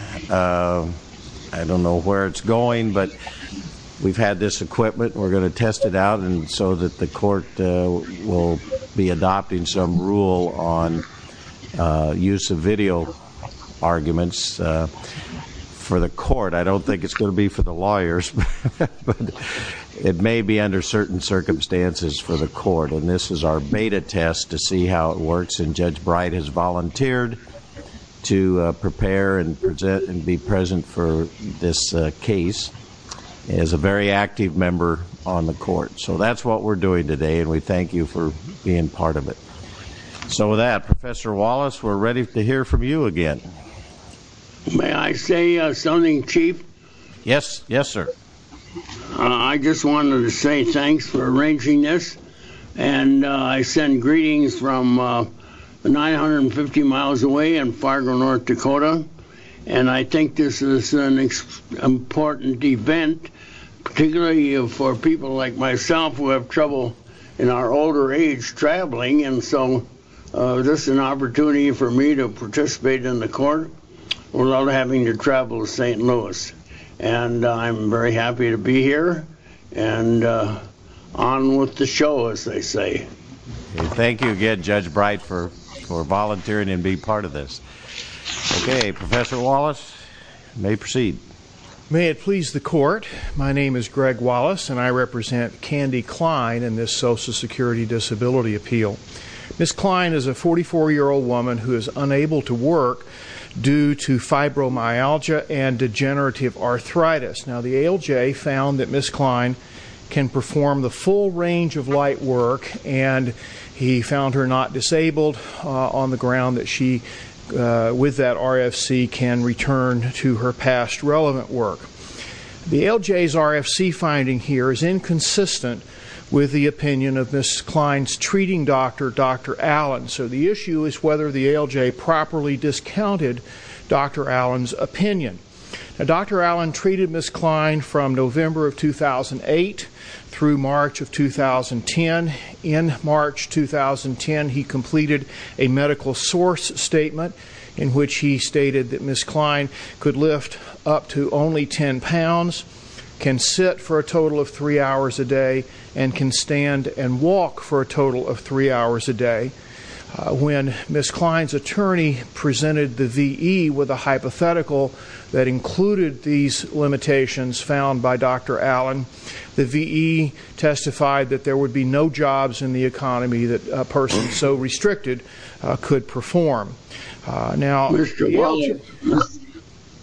I don't know where it's going, but we've had this equipment. We're going to test it out so that the court will be adopting some rule on use of video arguments for the court. I don't think it's going to be for the lawyers, but it may be under certain circumstances for the court. This is our beta test to see how it works, and Judge Bright has volunteered to prepare and be present for this case. He is a very active member on the court. That's what we're doing today, and we thank you for being part of it. With that, Professor Wallace, we're ready to hear from you again. May I say something, Chief? Yes, sir. I just wanted to say thanks for arranging this. I send greetings from 950 miles away in Fargo, North Dakota. I think this is an important event, particularly for people like myself who have trouble in our older age traveling. This is an opportunity for me to participate in the court without having to travel to St. Louis. I'm very happy to be here, and on with the show, as they say. Thank you again, Judge Bright, for volunteering and being part of this. Okay, Professor Wallace, you may proceed. May it please the court, my name is Greg Wallace, and I represent Candy Klein in this Social Security Disability Appeal. Ms. Klein is a 44-year-old woman who is unable to work due to fibromyalgia and degenerative arthritis. Now, the ALJ found that Ms. Klein can perform the full range of light work, and he found her not disabled on the ground that she, with that RFC, can return to her past relevant work. The ALJ's RFC finding here is inconsistent with the opinion of Ms. Klein's treating doctor, Dr. Allen, so the issue is whether the ALJ properly discounted Dr. Allen's opinion. Dr. Allen treated Ms. Klein from November of 2008 through March of 2010. In March 2010, he completed a medical source statement in which he stated that Ms. Klein could lift up to only 10 pounds, can sit for a total of 3 hours a day, and can stand and walk for a total of 3 hours a day. When Ms. Klein's attorney presented the VE with a hypothetical that included these limitations found by Dr. Allen, the VE testified that there would be no jobs in the economy that a person so restricted could perform. Mr.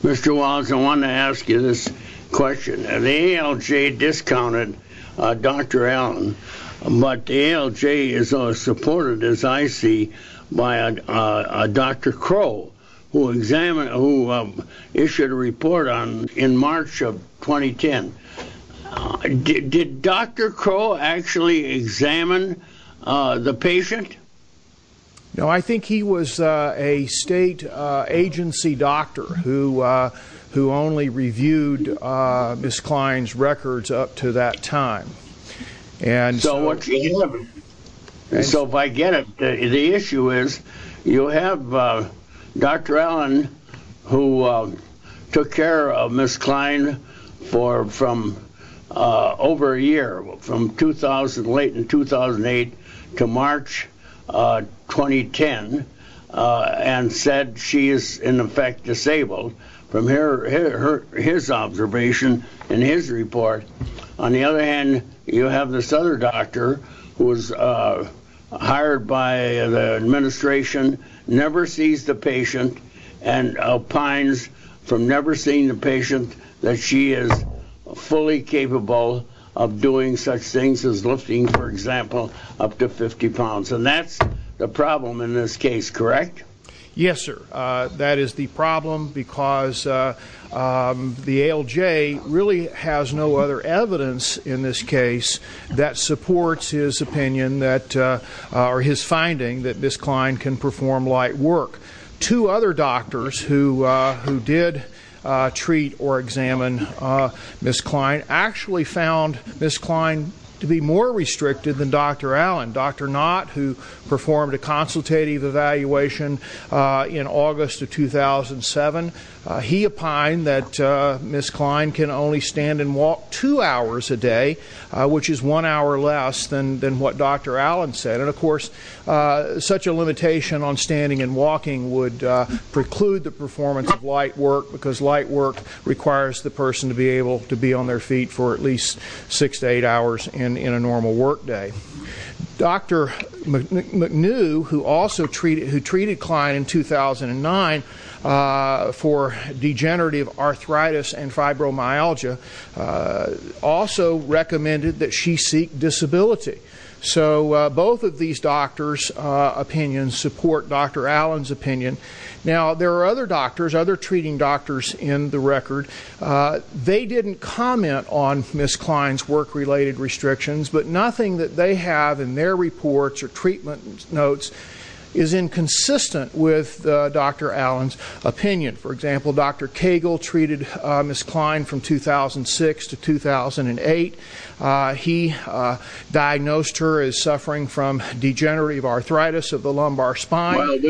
Walts, I want to ask you this question. The ALJ discounted Dr. Allen, but the ALJ is supported, as I see, by Dr. Crow, who issued a report in March of 2010. Did Dr. Crow actually examine the patient? No, I think he was a state agency doctor who only reviewed Ms. Klein's records up to that time. So if I get it, the issue is you have Dr. Allen who took care of Ms. Klein for over a year, from late 2008 to March 2010, and said she is in effect disabled from his observation in his report. On the other hand, you have this other doctor who was hired by the administration, never sees the patient, and opines from never seeing the patient that she is fully capable of doing such things as lifting, for example, up to 50 pounds. And that's the problem in this case, correct? Yes, sir. That is the problem because the ALJ really has no other evidence in this case that supports his opinion or his finding that Ms. Klein can perform light work. Two other doctors who did treat or examine Ms. Klein actually found Ms. Klein to be more restricted than Dr. Allen. Dr. Knott, who performed a consultative evaluation in August of 2007, he opined that Ms. Klein can only stand and walk two hours a day, which is one hour less than what Dr. Allen said. And, of course, such a limitation on standing and walking would preclude the performance of light work because light work requires the person to be able to be on their feet for at least six to eight hours in a normal work day. Dr. McNew, who treated Klein in 2009 for degenerative arthritis and fibromyalgia, also recommended that she seek disability. So both of these doctors' opinions support Dr. Allen's opinion. Now, there are other doctors, other treating doctors in the record. They didn't comment on Ms. Klein's work-related restrictions, but nothing that they have in their reports or treatment notes is inconsistent with Dr. Allen's opinion. For example, Dr. Cagle treated Ms. Klein from 2006 to 2008. He diagnosed her as suffering from degenerative arthritis of the lumbar spine.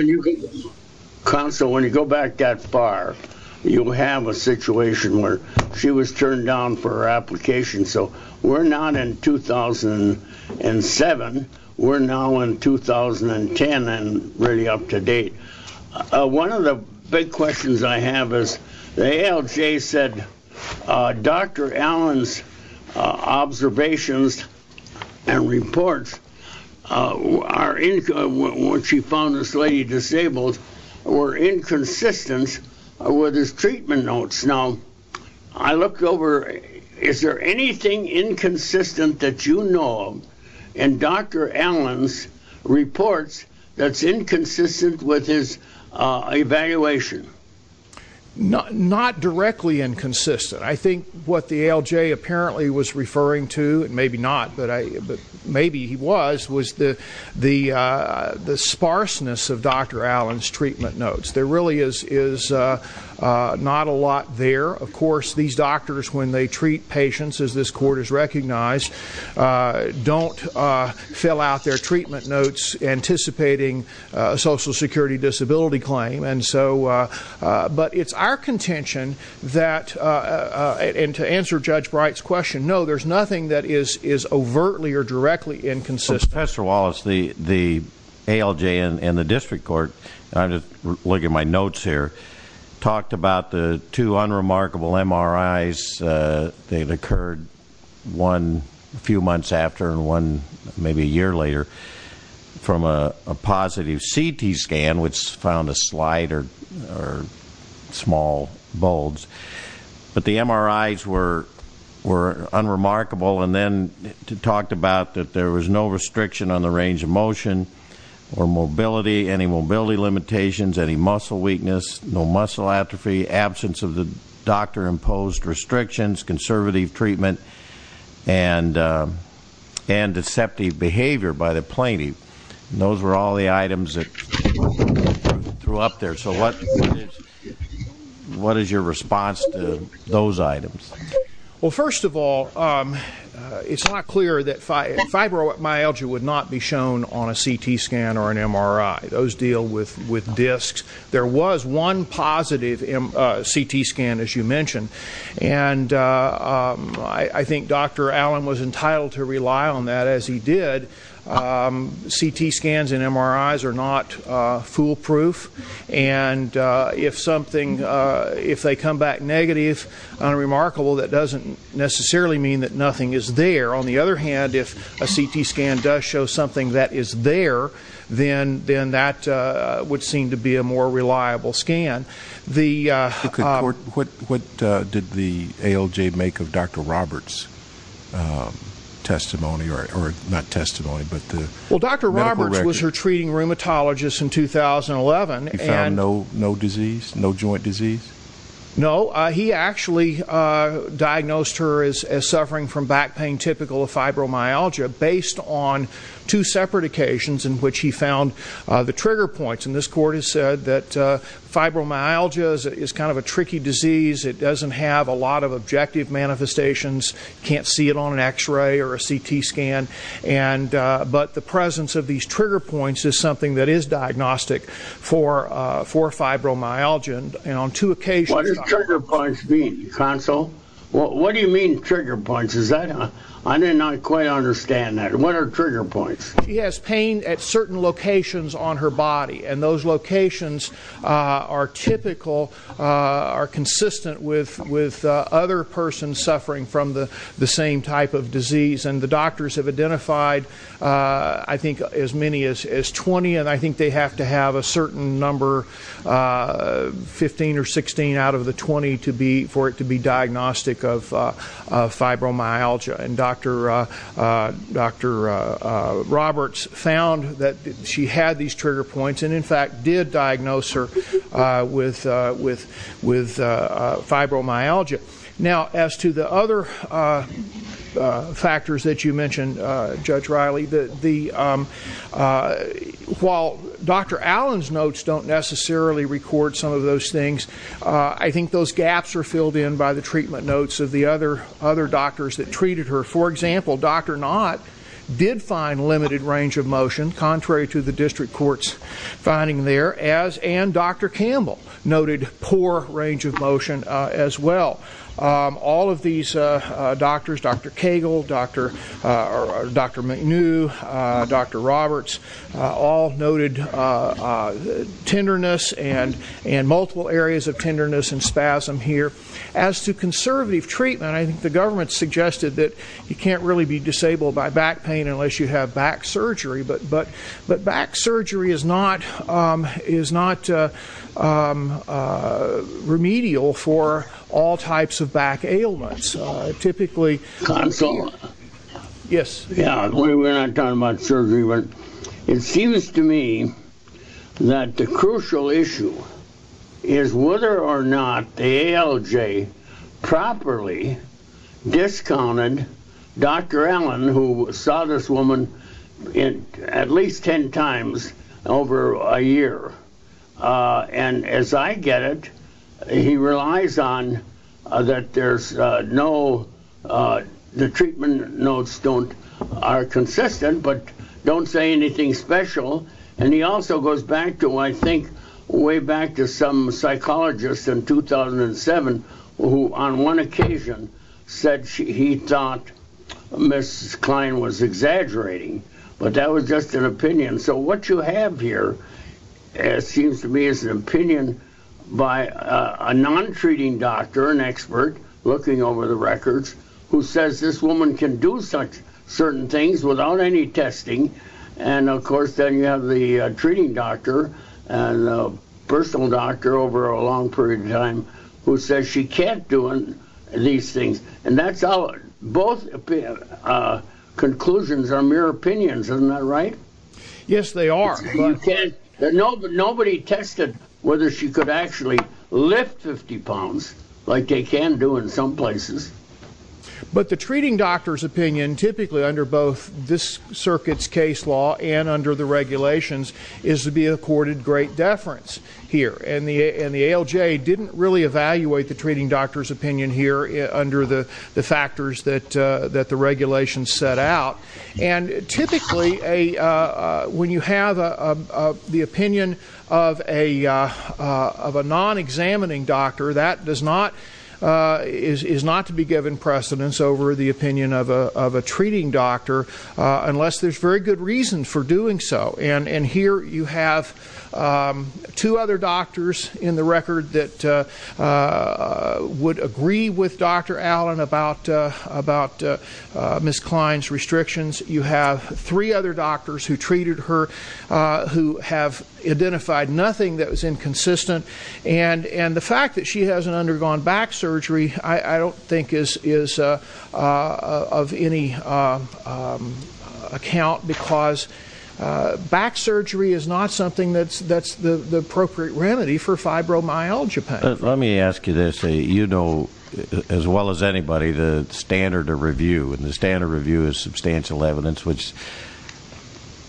Counsel, when you go back that far, you have a situation where she was turned down for her application. So we're not in 2007. We're now in 2010 and really up to date. One of the big questions I have is the ALJ said Dr. Allen's observations and reports are when she found this lady disabled were inconsistent with his treatment notes. Now, I looked over. Is there anything inconsistent that you know of in Dr. Allen's reports that's inconsistent with his evaluation? Not directly inconsistent. I think what the ALJ apparently was referring to, and maybe not, but maybe he was, was the sparseness of Dr. Allen's treatment notes. There really is not a lot there. Of course, these doctors, when they treat patients, as this court has recognized, don't fill out their treatment notes anticipating a Social Security disability claim. But it's our contention that, and to answer Judge Bright's question, no, there's nothing that is overtly or directly inconsistent. Professor Wallace, the ALJ and the district court, and I'm just looking at my notes here, talked about the two unremarkable MRIs. They had occurred one a few months after and one maybe a year later from a positive CT scan, which found a slight or small bulge. But the MRIs were unremarkable, and then talked about that there was no restriction on the range of motion or mobility, any mobility limitations, any muscle weakness, no muscle atrophy, absence of the doctor-imposed restrictions, conservative treatment, and deceptive behavior by the plaintiff. Those were all the items that threw up there. So what is your response to those items? Well, first of all, it's not clear that fibromyalgia would not be shown on a CT scan or an MRI. Those deal with discs. There was one positive CT scan, as you mentioned, and I think Dr. Allen was entitled to rely on that, as he did. CT scans and MRIs are not foolproof, and if they come back negative, unremarkable, that doesn't necessarily mean that nothing is there. On the other hand, if a CT scan does show something that is there, then that would seem to be a more reliable scan. What did the ALJ make of Dr. Roberts' testimony? Well, Dr. Roberts was her treating rheumatologist in 2011. He found no disease, no joint disease? No, he actually diagnosed her as suffering from back pain typical of fibromyalgia, based on two separate occasions in which he found the trigger points. And this court has said that fibromyalgia is kind of a tricky disease. It doesn't have a lot of objective manifestations. You can't see it on an X-ray or a CT scan. But the presence of these trigger points is something that is diagnostic for fibromyalgia. What do trigger points mean, counsel? What do you mean, trigger points? I did not quite understand that. What are trigger points? She has pain at certain locations on her body, and those locations are typical, are consistent with other persons suffering from the same type of disease. And the doctors have identified, I think, as many as 20, and I think they have to have a certain number, 15 or 16 out of the 20, for it to be diagnostic of fibromyalgia. And Dr. Roberts found that she had these trigger points and, in fact, did diagnose her with fibromyalgia. Now, as to the other factors that you mentioned, Judge Riley, while Dr. Allen's notes don't necessarily record some of those things, I think those gaps are filled in by the treatment notes of the other doctors that treated her. For example, Dr. Knott did find limited range of motion, contrary to the district court's finding there, and Dr. Campbell noted poor range of motion as well. All of these doctors, Dr. Cagle, Dr. McNew, Dr. Roberts, all noted tenderness and multiple areas of tenderness and spasm here. As to conservative treatment, I think the government suggested that you can't really be disabled by back pain unless you have back surgery, but back surgery is not remedial for all types of back ailments. We're not talking about surgery, but it seems to me that the crucial issue is whether or not the ALJ properly discounted Dr. Allen, who saw this woman at least ten times over a year. As I get it, he relies on that the treatment notes are consistent, but don't say anything special. He also goes back to, I think, way back to some psychologist in 2007, who on one occasion said he thought Mrs. Klein was exaggerating, but that was just an opinion. So what you have here, it seems to me, is an opinion by a non-treating doctor, an expert looking over the records, who says this woman can do certain things without any testing, and of course then you have the treating doctor and personal doctor over a long period of time who says she can't do these things, and that's how both conclusions are mere opinions, isn't that right? Yes, they are. Nobody tested whether she could actually lift 50 pounds like they can do in some places. But the treating doctor's opinion, typically under both this circuit's case law and under the regulations, is to be accorded great deference here, and the ALJ didn't really evaluate the treating doctor's opinion here under the factors that the regulations set out. And typically when you have the opinion of a non-examining doctor, that is not to be given precedence over the opinion of a treating doctor, unless there's very good reason for doing so. And here you have two other doctors in the record that would agree with Dr. Allen about Ms. Klein's restrictions. You have three other doctors who treated her who have identified nothing that was inconsistent, and the fact that she hasn't undergone back surgery I don't think is of any account because back surgery is not something that's the appropriate remedy for fibromyalgia pain. Let me ask you this. You know as well as anybody the standard of review, and the standard review is substantial evidence which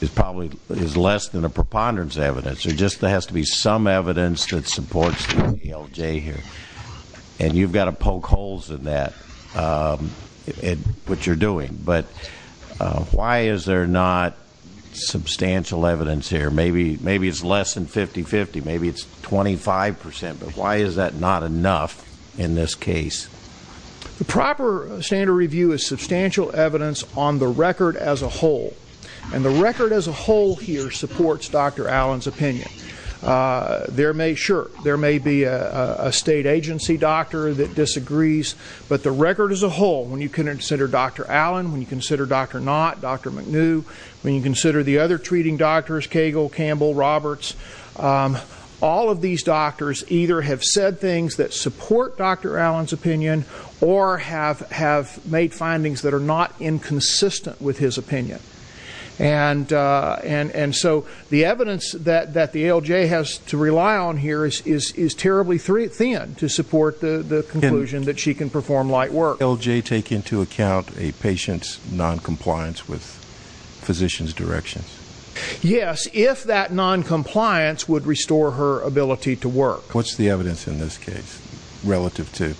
is probably less than a preponderance evidence. There just has to be some evidence that supports the ALJ here, and you've got to poke holes in that, in what you're doing. But why is there not substantial evidence here? Maybe it's less than 50-50, maybe it's 25%, but why is that not enough in this case? The proper standard review is substantial evidence on the record as a whole, and the record as a whole here supports Dr. Allen's opinion. Sure, there may be a state agency doctor that disagrees, but the record as a whole when you consider Dr. Allen, when you consider Dr. Knott, Dr. McNew, when you consider the other treating doctors, Cagle, Campbell, Roberts, all of these doctors either have said things that support Dr. Allen's opinion or have made findings that are not inconsistent with his opinion. And so the evidence that the ALJ has to rely on here is terribly thin to support the conclusion that she can perform light work. ALJ take into account a patient's noncompliance with physician's directions? Yes, if that noncompliance would restore her ability to work. What's the evidence in this case relative to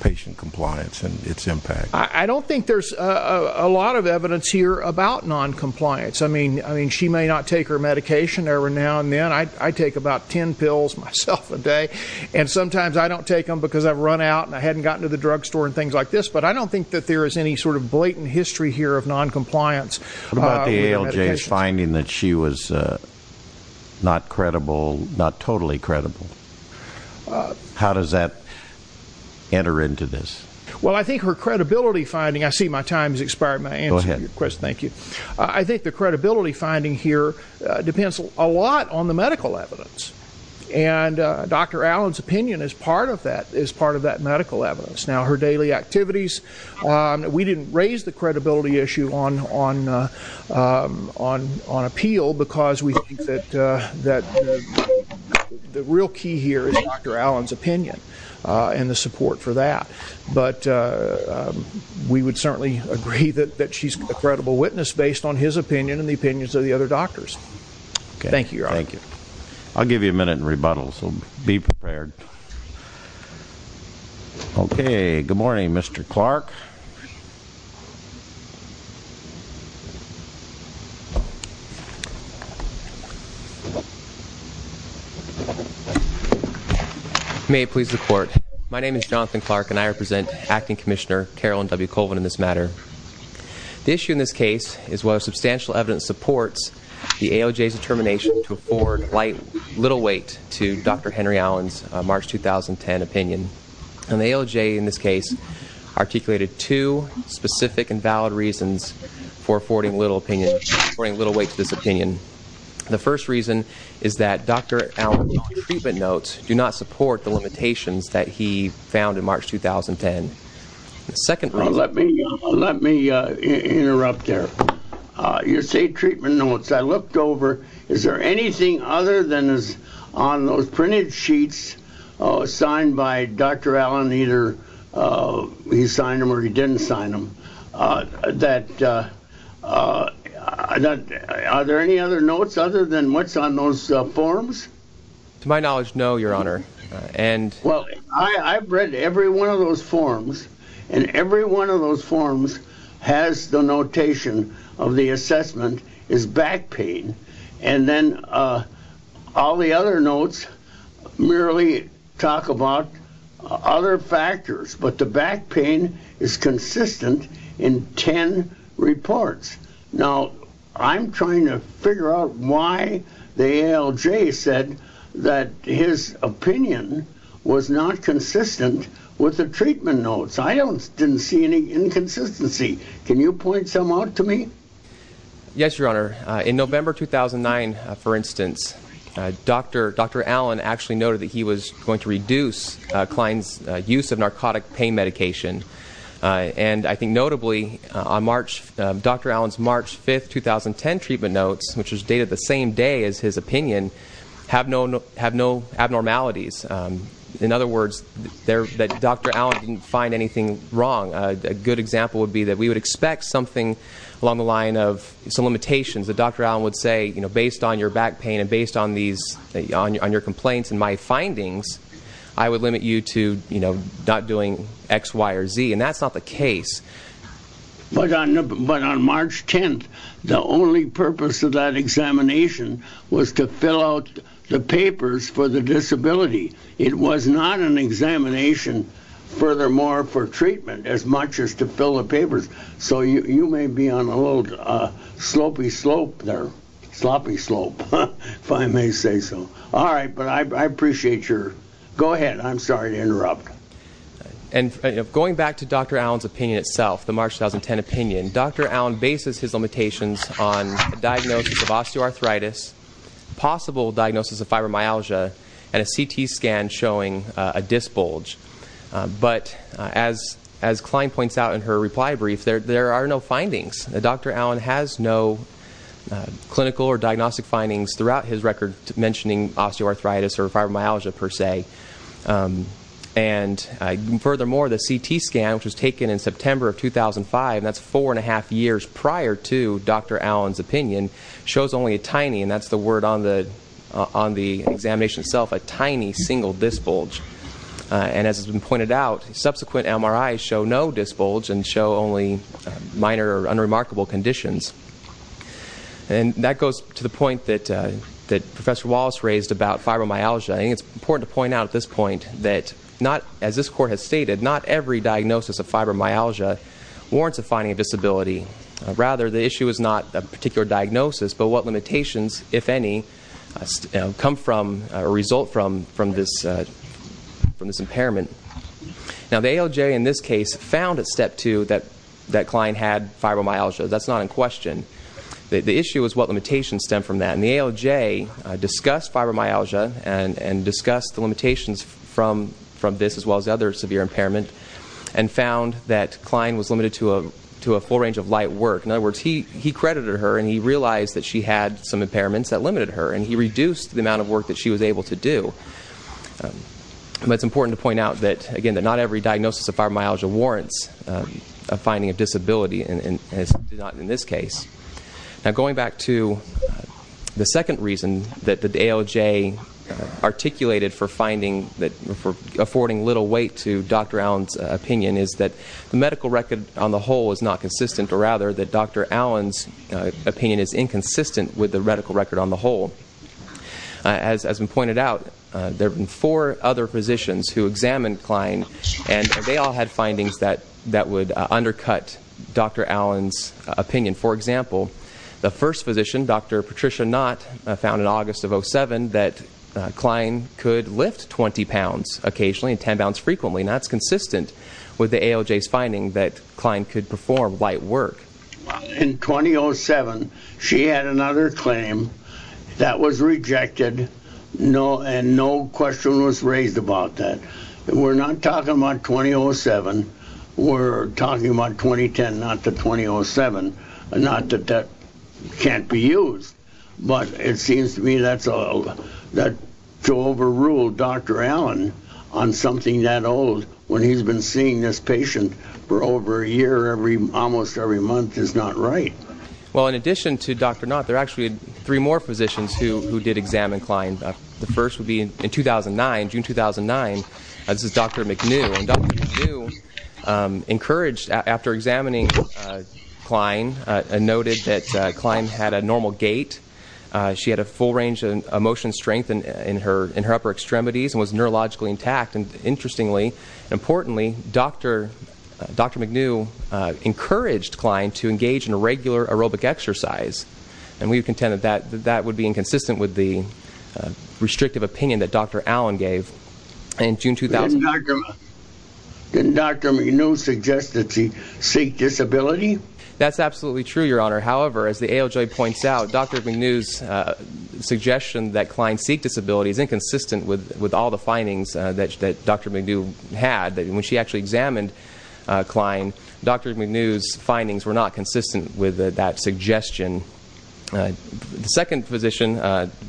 patient compliance and its impact? I don't think there's a lot of evidence here about noncompliance. I mean, she may not take her medication every now and then. I take about 10 pills myself a day, and sometimes I don't take them because I've run out and I hadn't gotten to the drugstore and things like this, but I don't think that there is any sort of blatant history here of noncompliance. What about the ALJ's finding that she was not totally credible? How does that enter into this? Well, I think her credibility finding, I see my time has expired. May I answer your question? Thank you. I think the credibility finding here depends a lot on the medical evidence, and Dr. Allen's opinion is part of that medical evidence. Now, her daily activities, we didn't raise the credibility issue on appeal because we think that the real key here is Dr. Allen's opinion and the support for that. But we would certainly agree that she's a credible witness based on his opinion and the opinions of the other doctors. Thank you, Your Honor. Thank you. I'll give you a minute and rebuttal, so be prepared. Okay. Good morning, Mr. Clark. May it please the Court. My name is Jonathan Clark, and I represent Acting Commissioner Carolyn W. Colvin in this matter. The issue in this case is whether substantial evidence supports the ALJ's determination to afford little weight to Dr. Henry Allen's March 2010 opinion. And the ALJ, in this case, articulated two specific and valid reasons for affording little weight to this opinion. The first reason is that Dr. Allen's treatment notes do not support the limitations that he found in March 2010. The second reason... Let me interrupt there. You say treatment notes. I looked over. Is there anything other than those printed sheets signed by Dr. Allen, either he signed them or he didn't sign them, that... Are there any other notes other than what's on those forms? To my knowledge, no, Your Honor. Well, I've read every one of those forms, and every one of those forms has the notation of the assessment as back pain. And then all the other notes merely talk about other factors, but the back pain is consistent in ten reports. Now, I'm trying to figure out why the ALJ said that his opinion was not consistent with the treatment notes. I didn't see any inconsistency. Can you point some out to me? Yes, Your Honor. In November 2009, for instance, Dr. Allen actually noted that he was going to reduce Klein's use of narcotic pain medication. And I think notably, Dr. Allen's March 5, 2010 treatment notes, which was dated the same day as his opinion, have no abnormalities. In other words, Dr. Allen didn't find anything wrong. A good example would be that we would expect something along the line of some limitations that Dr. Allen would say, you know, based on your back pain and based on your complaints and my findings, I would limit you to not doing X, Y, or Z. And that's not the case. But on March 10th, the only purpose of that examination was to fill out the papers for the disability. It was not an examination, furthermore, for treatment as much as to fill the papers. So you may be on a little slopey slope there, sloppy slope, if I may say so. All right, but I appreciate your go ahead. I'm sorry to interrupt. And going back to Dr. Allen's opinion itself, the March 2010 opinion, Dr. Allen bases his limitations on diagnosis of osteoarthritis, possible diagnosis of fibromyalgia, and a CT scan showing a disc bulge. But as Klein points out in her reply brief, there are no findings. Dr. Allen has no clinical or diagnostic findings throughout his record mentioning osteoarthritis or fibromyalgia, per se. And furthermore, the CT scan, which was taken in September of 2005, and that's four and a half years prior to Dr. Allen's opinion, shows only a tiny, and that's the word on the examination itself, a tiny single disc bulge. And as has been pointed out, subsequent MRIs show no disc bulge and show only minor or unremarkable conditions. And that goes to the point that Professor Wallace raised about fibromyalgia. I think it's important to point out at this point that, as this court has stated, not every diagnosis of fibromyalgia warrants a finding of disability. Rather, the issue is not a particular diagnosis, but what limitations, if any, come from or result from this impairment. Now, the ALJ in this case found at step two that Klein had fibromyalgia. That's not in question. The issue is what limitations stem from that. And the ALJ discussed fibromyalgia and discussed the limitations from this as well as other severe impairment and found that Klein was limited to a full range of light work. In other words, he credited her, and he realized that she had some impairments that limited her, and he reduced the amount of work that she was able to do. But it's important to point out that, again, that not every diagnosis of fibromyalgia warrants a finding of disability, as did not in this case. Now, going back to the second reason that the ALJ articulated for affording little weight to Dr. Allen's opinion is that the medical record on the whole is not consistent, or rather that Dr. Allen's opinion is inconsistent with the medical record on the whole. As has been pointed out, there have been four other physicians who examined Klein, and they all had findings that would undercut Dr. Allen's opinion. For example, the first physician, Dr. Patricia Knott, found in August of 2007 that Klein could lift 20 pounds occasionally and 10 pounds frequently, and that's consistent with the ALJ's finding that Klein could perform light work. In 2007, she had another claim that was rejected, and no question was raised about that. We're not talking about 2007. We're talking about 2010, not the 2007. Not that that can't be used, but it seems to me that to overrule Dr. Allen on something that old, when he's been seeing this patient for over a year almost every month, is not right. Well, in addition to Dr. Knott, there are actually three more physicians who did examine Klein. The first would be in 2009, June 2009. This is Dr. McNew, and Dr. McNew encouraged, after examining Klein, and noted that Klein had a normal gait. She had a full range of motion strength in her upper extremities and was neurologically intact. Interestingly, importantly, Dr. McNew encouraged Klein to engage in a regular aerobic exercise, and we contend that that would be inconsistent with the restrictive opinion that Dr. Allen gave in June 2000. Didn't Dr. McNew suggest that she seek disability? That's absolutely true, Your Honor. However, as the ALJ points out, Dr. McNew's suggestion that Klein seek disability is inconsistent with all the findings that Dr. McNew had. When she actually examined Klein, Dr. McNew's findings were not consistent with that suggestion. The second physician,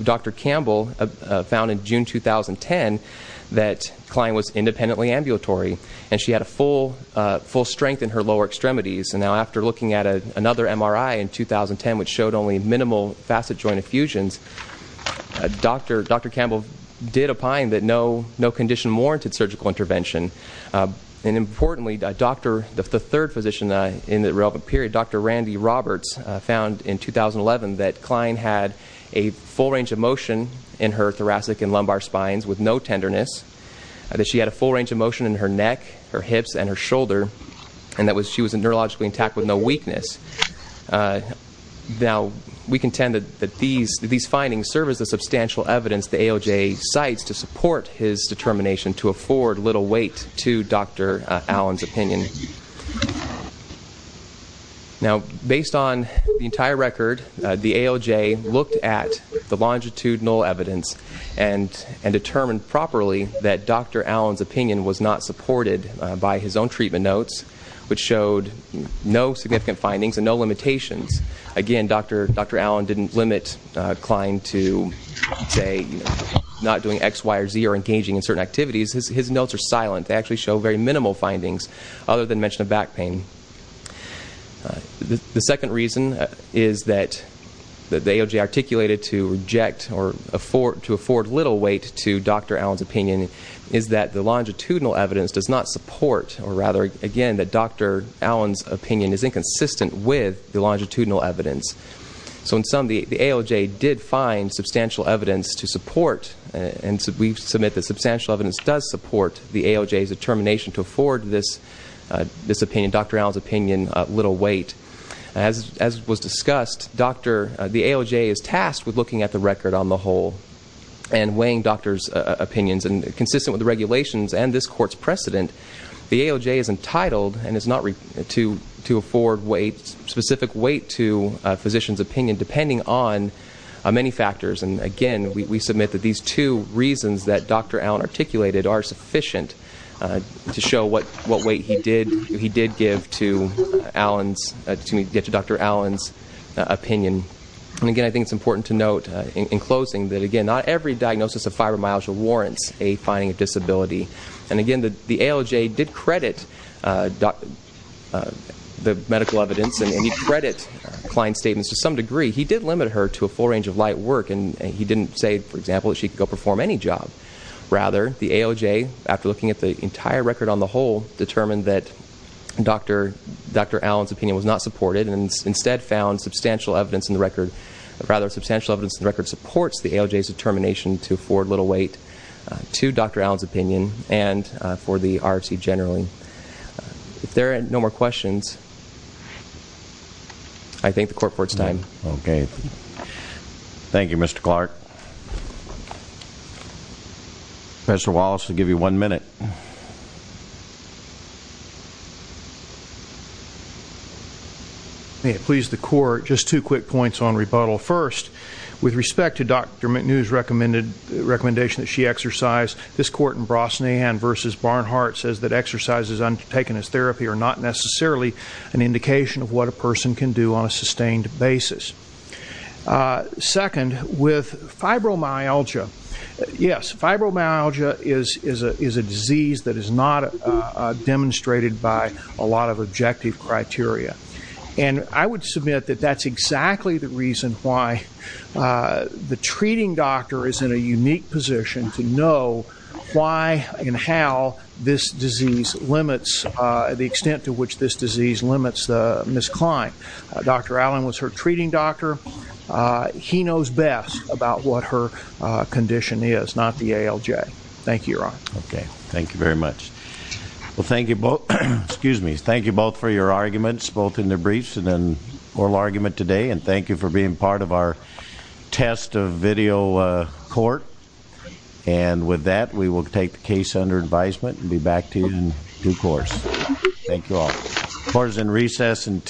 Dr. Campbell, found in June 2010 that Klein was independently ambulatory, and she had a full strength in her lower extremities. Now, after looking at another MRI in 2010 which showed only minimal facet joint effusions, Dr. Campbell did opine that no condition warranted surgical intervention. Importantly, the third physician in the relevant period, Dr. Randy Roberts, found in 2011 that Klein had a full range of motion in her thoracic and lumbar spines with no tenderness, that she had a full range of motion in her neck, her hips, and her shoulder, and that she was neurologically intact with no weakness. Now, we contend that these findings serve as the substantial evidence the ALJ cites to support his determination to afford little weight to Dr. Allen's opinion. Now, based on the entire record, the ALJ looked at the longitudinal evidence and determined properly that Dr. Allen's opinion was not supported by his own treatment notes, which showed no significant findings and no limitations. Again, Dr. Allen didn't limit Klein to, say, not doing X, Y, or Z or engaging in certain activities. His notes are silent. They actually show very minimal findings other than mention of back pain. The second reason is that the ALJ articulated to reject or to afford little weight to Dr. Allen's opinion is that the longitudinal evidence does not support, or rather, again, that Dr. Allen's opinion is inconsistent with the longitudinal evidence. So in sum, the ALJ did find substantial evidence to support, and we submit that substantial evidence does support the ALJ's determination to afford this opinion, Dr. Allen's opinion, little weight. As was discussed, the ALJ is tasked with looking at the record on the whole and weighing doctors' opinions. Consistent with the regulations and this court's precedent, the ALJ is entitled and is not to afford specific weight to physicians' opinion depending on many factors. Again, we submit that these two reasons that Dr. Allen articulated are sufficient to show what weight he did give to Dr. Allen's opinion. And again, I think it's important to note in closing that, again, not every diagnosis of fibromyalgia warrants a finding of disability. And again, the ALJ did credit the medical evidence and he did credit Klein's statements to some degree. He did limit her to a full range of light work, and he didn't say, for example, that she could go perform any job. Rather, the ALJ, after looking at the entire record on the whole, determined that Dr. Allen's opinion was not supported and instead found substantial evidence in the record. Rather, substantial evidence in the record supports the ALJ's determination to afford little weight to Dr. Allen's opinion and for the RFC generally. If there are no more questions, I thank the court for its time. Okay. Thank you, Mr. Clark. Mr. Wallace, I'll give you one minute. May it please the court, just two quick points on rebuttal. First, with respect to Dr. McNew's recommendation that she exercise, this court in Brosnahan v. Barnhart says that exercises undertaken as therapy are not necessarily an indication of what a person can do on a sustained basis. Second, with fibromyalgia. Yes, fibromyalgia is a disease that is not demonstrated by a lot of objective criteria. And I would submit that that's exactly the reason why the treating doctor is in a unique position to know why and how this disease limits, the extent to which this disease limits Ms. Klein. Dr. Allen was her treating doctor. He knows best about what her condition is, not the ALJ. Thank you, Your Honor. Okay. Thank you very much. Well, thank you both for your arguments, both in the briefs and in oral argument today. And thank you for being part of our test of video court. And with that, we will take the case under advisement and be back to you in due course. Thank you all. Court is in recess until 10 a.m.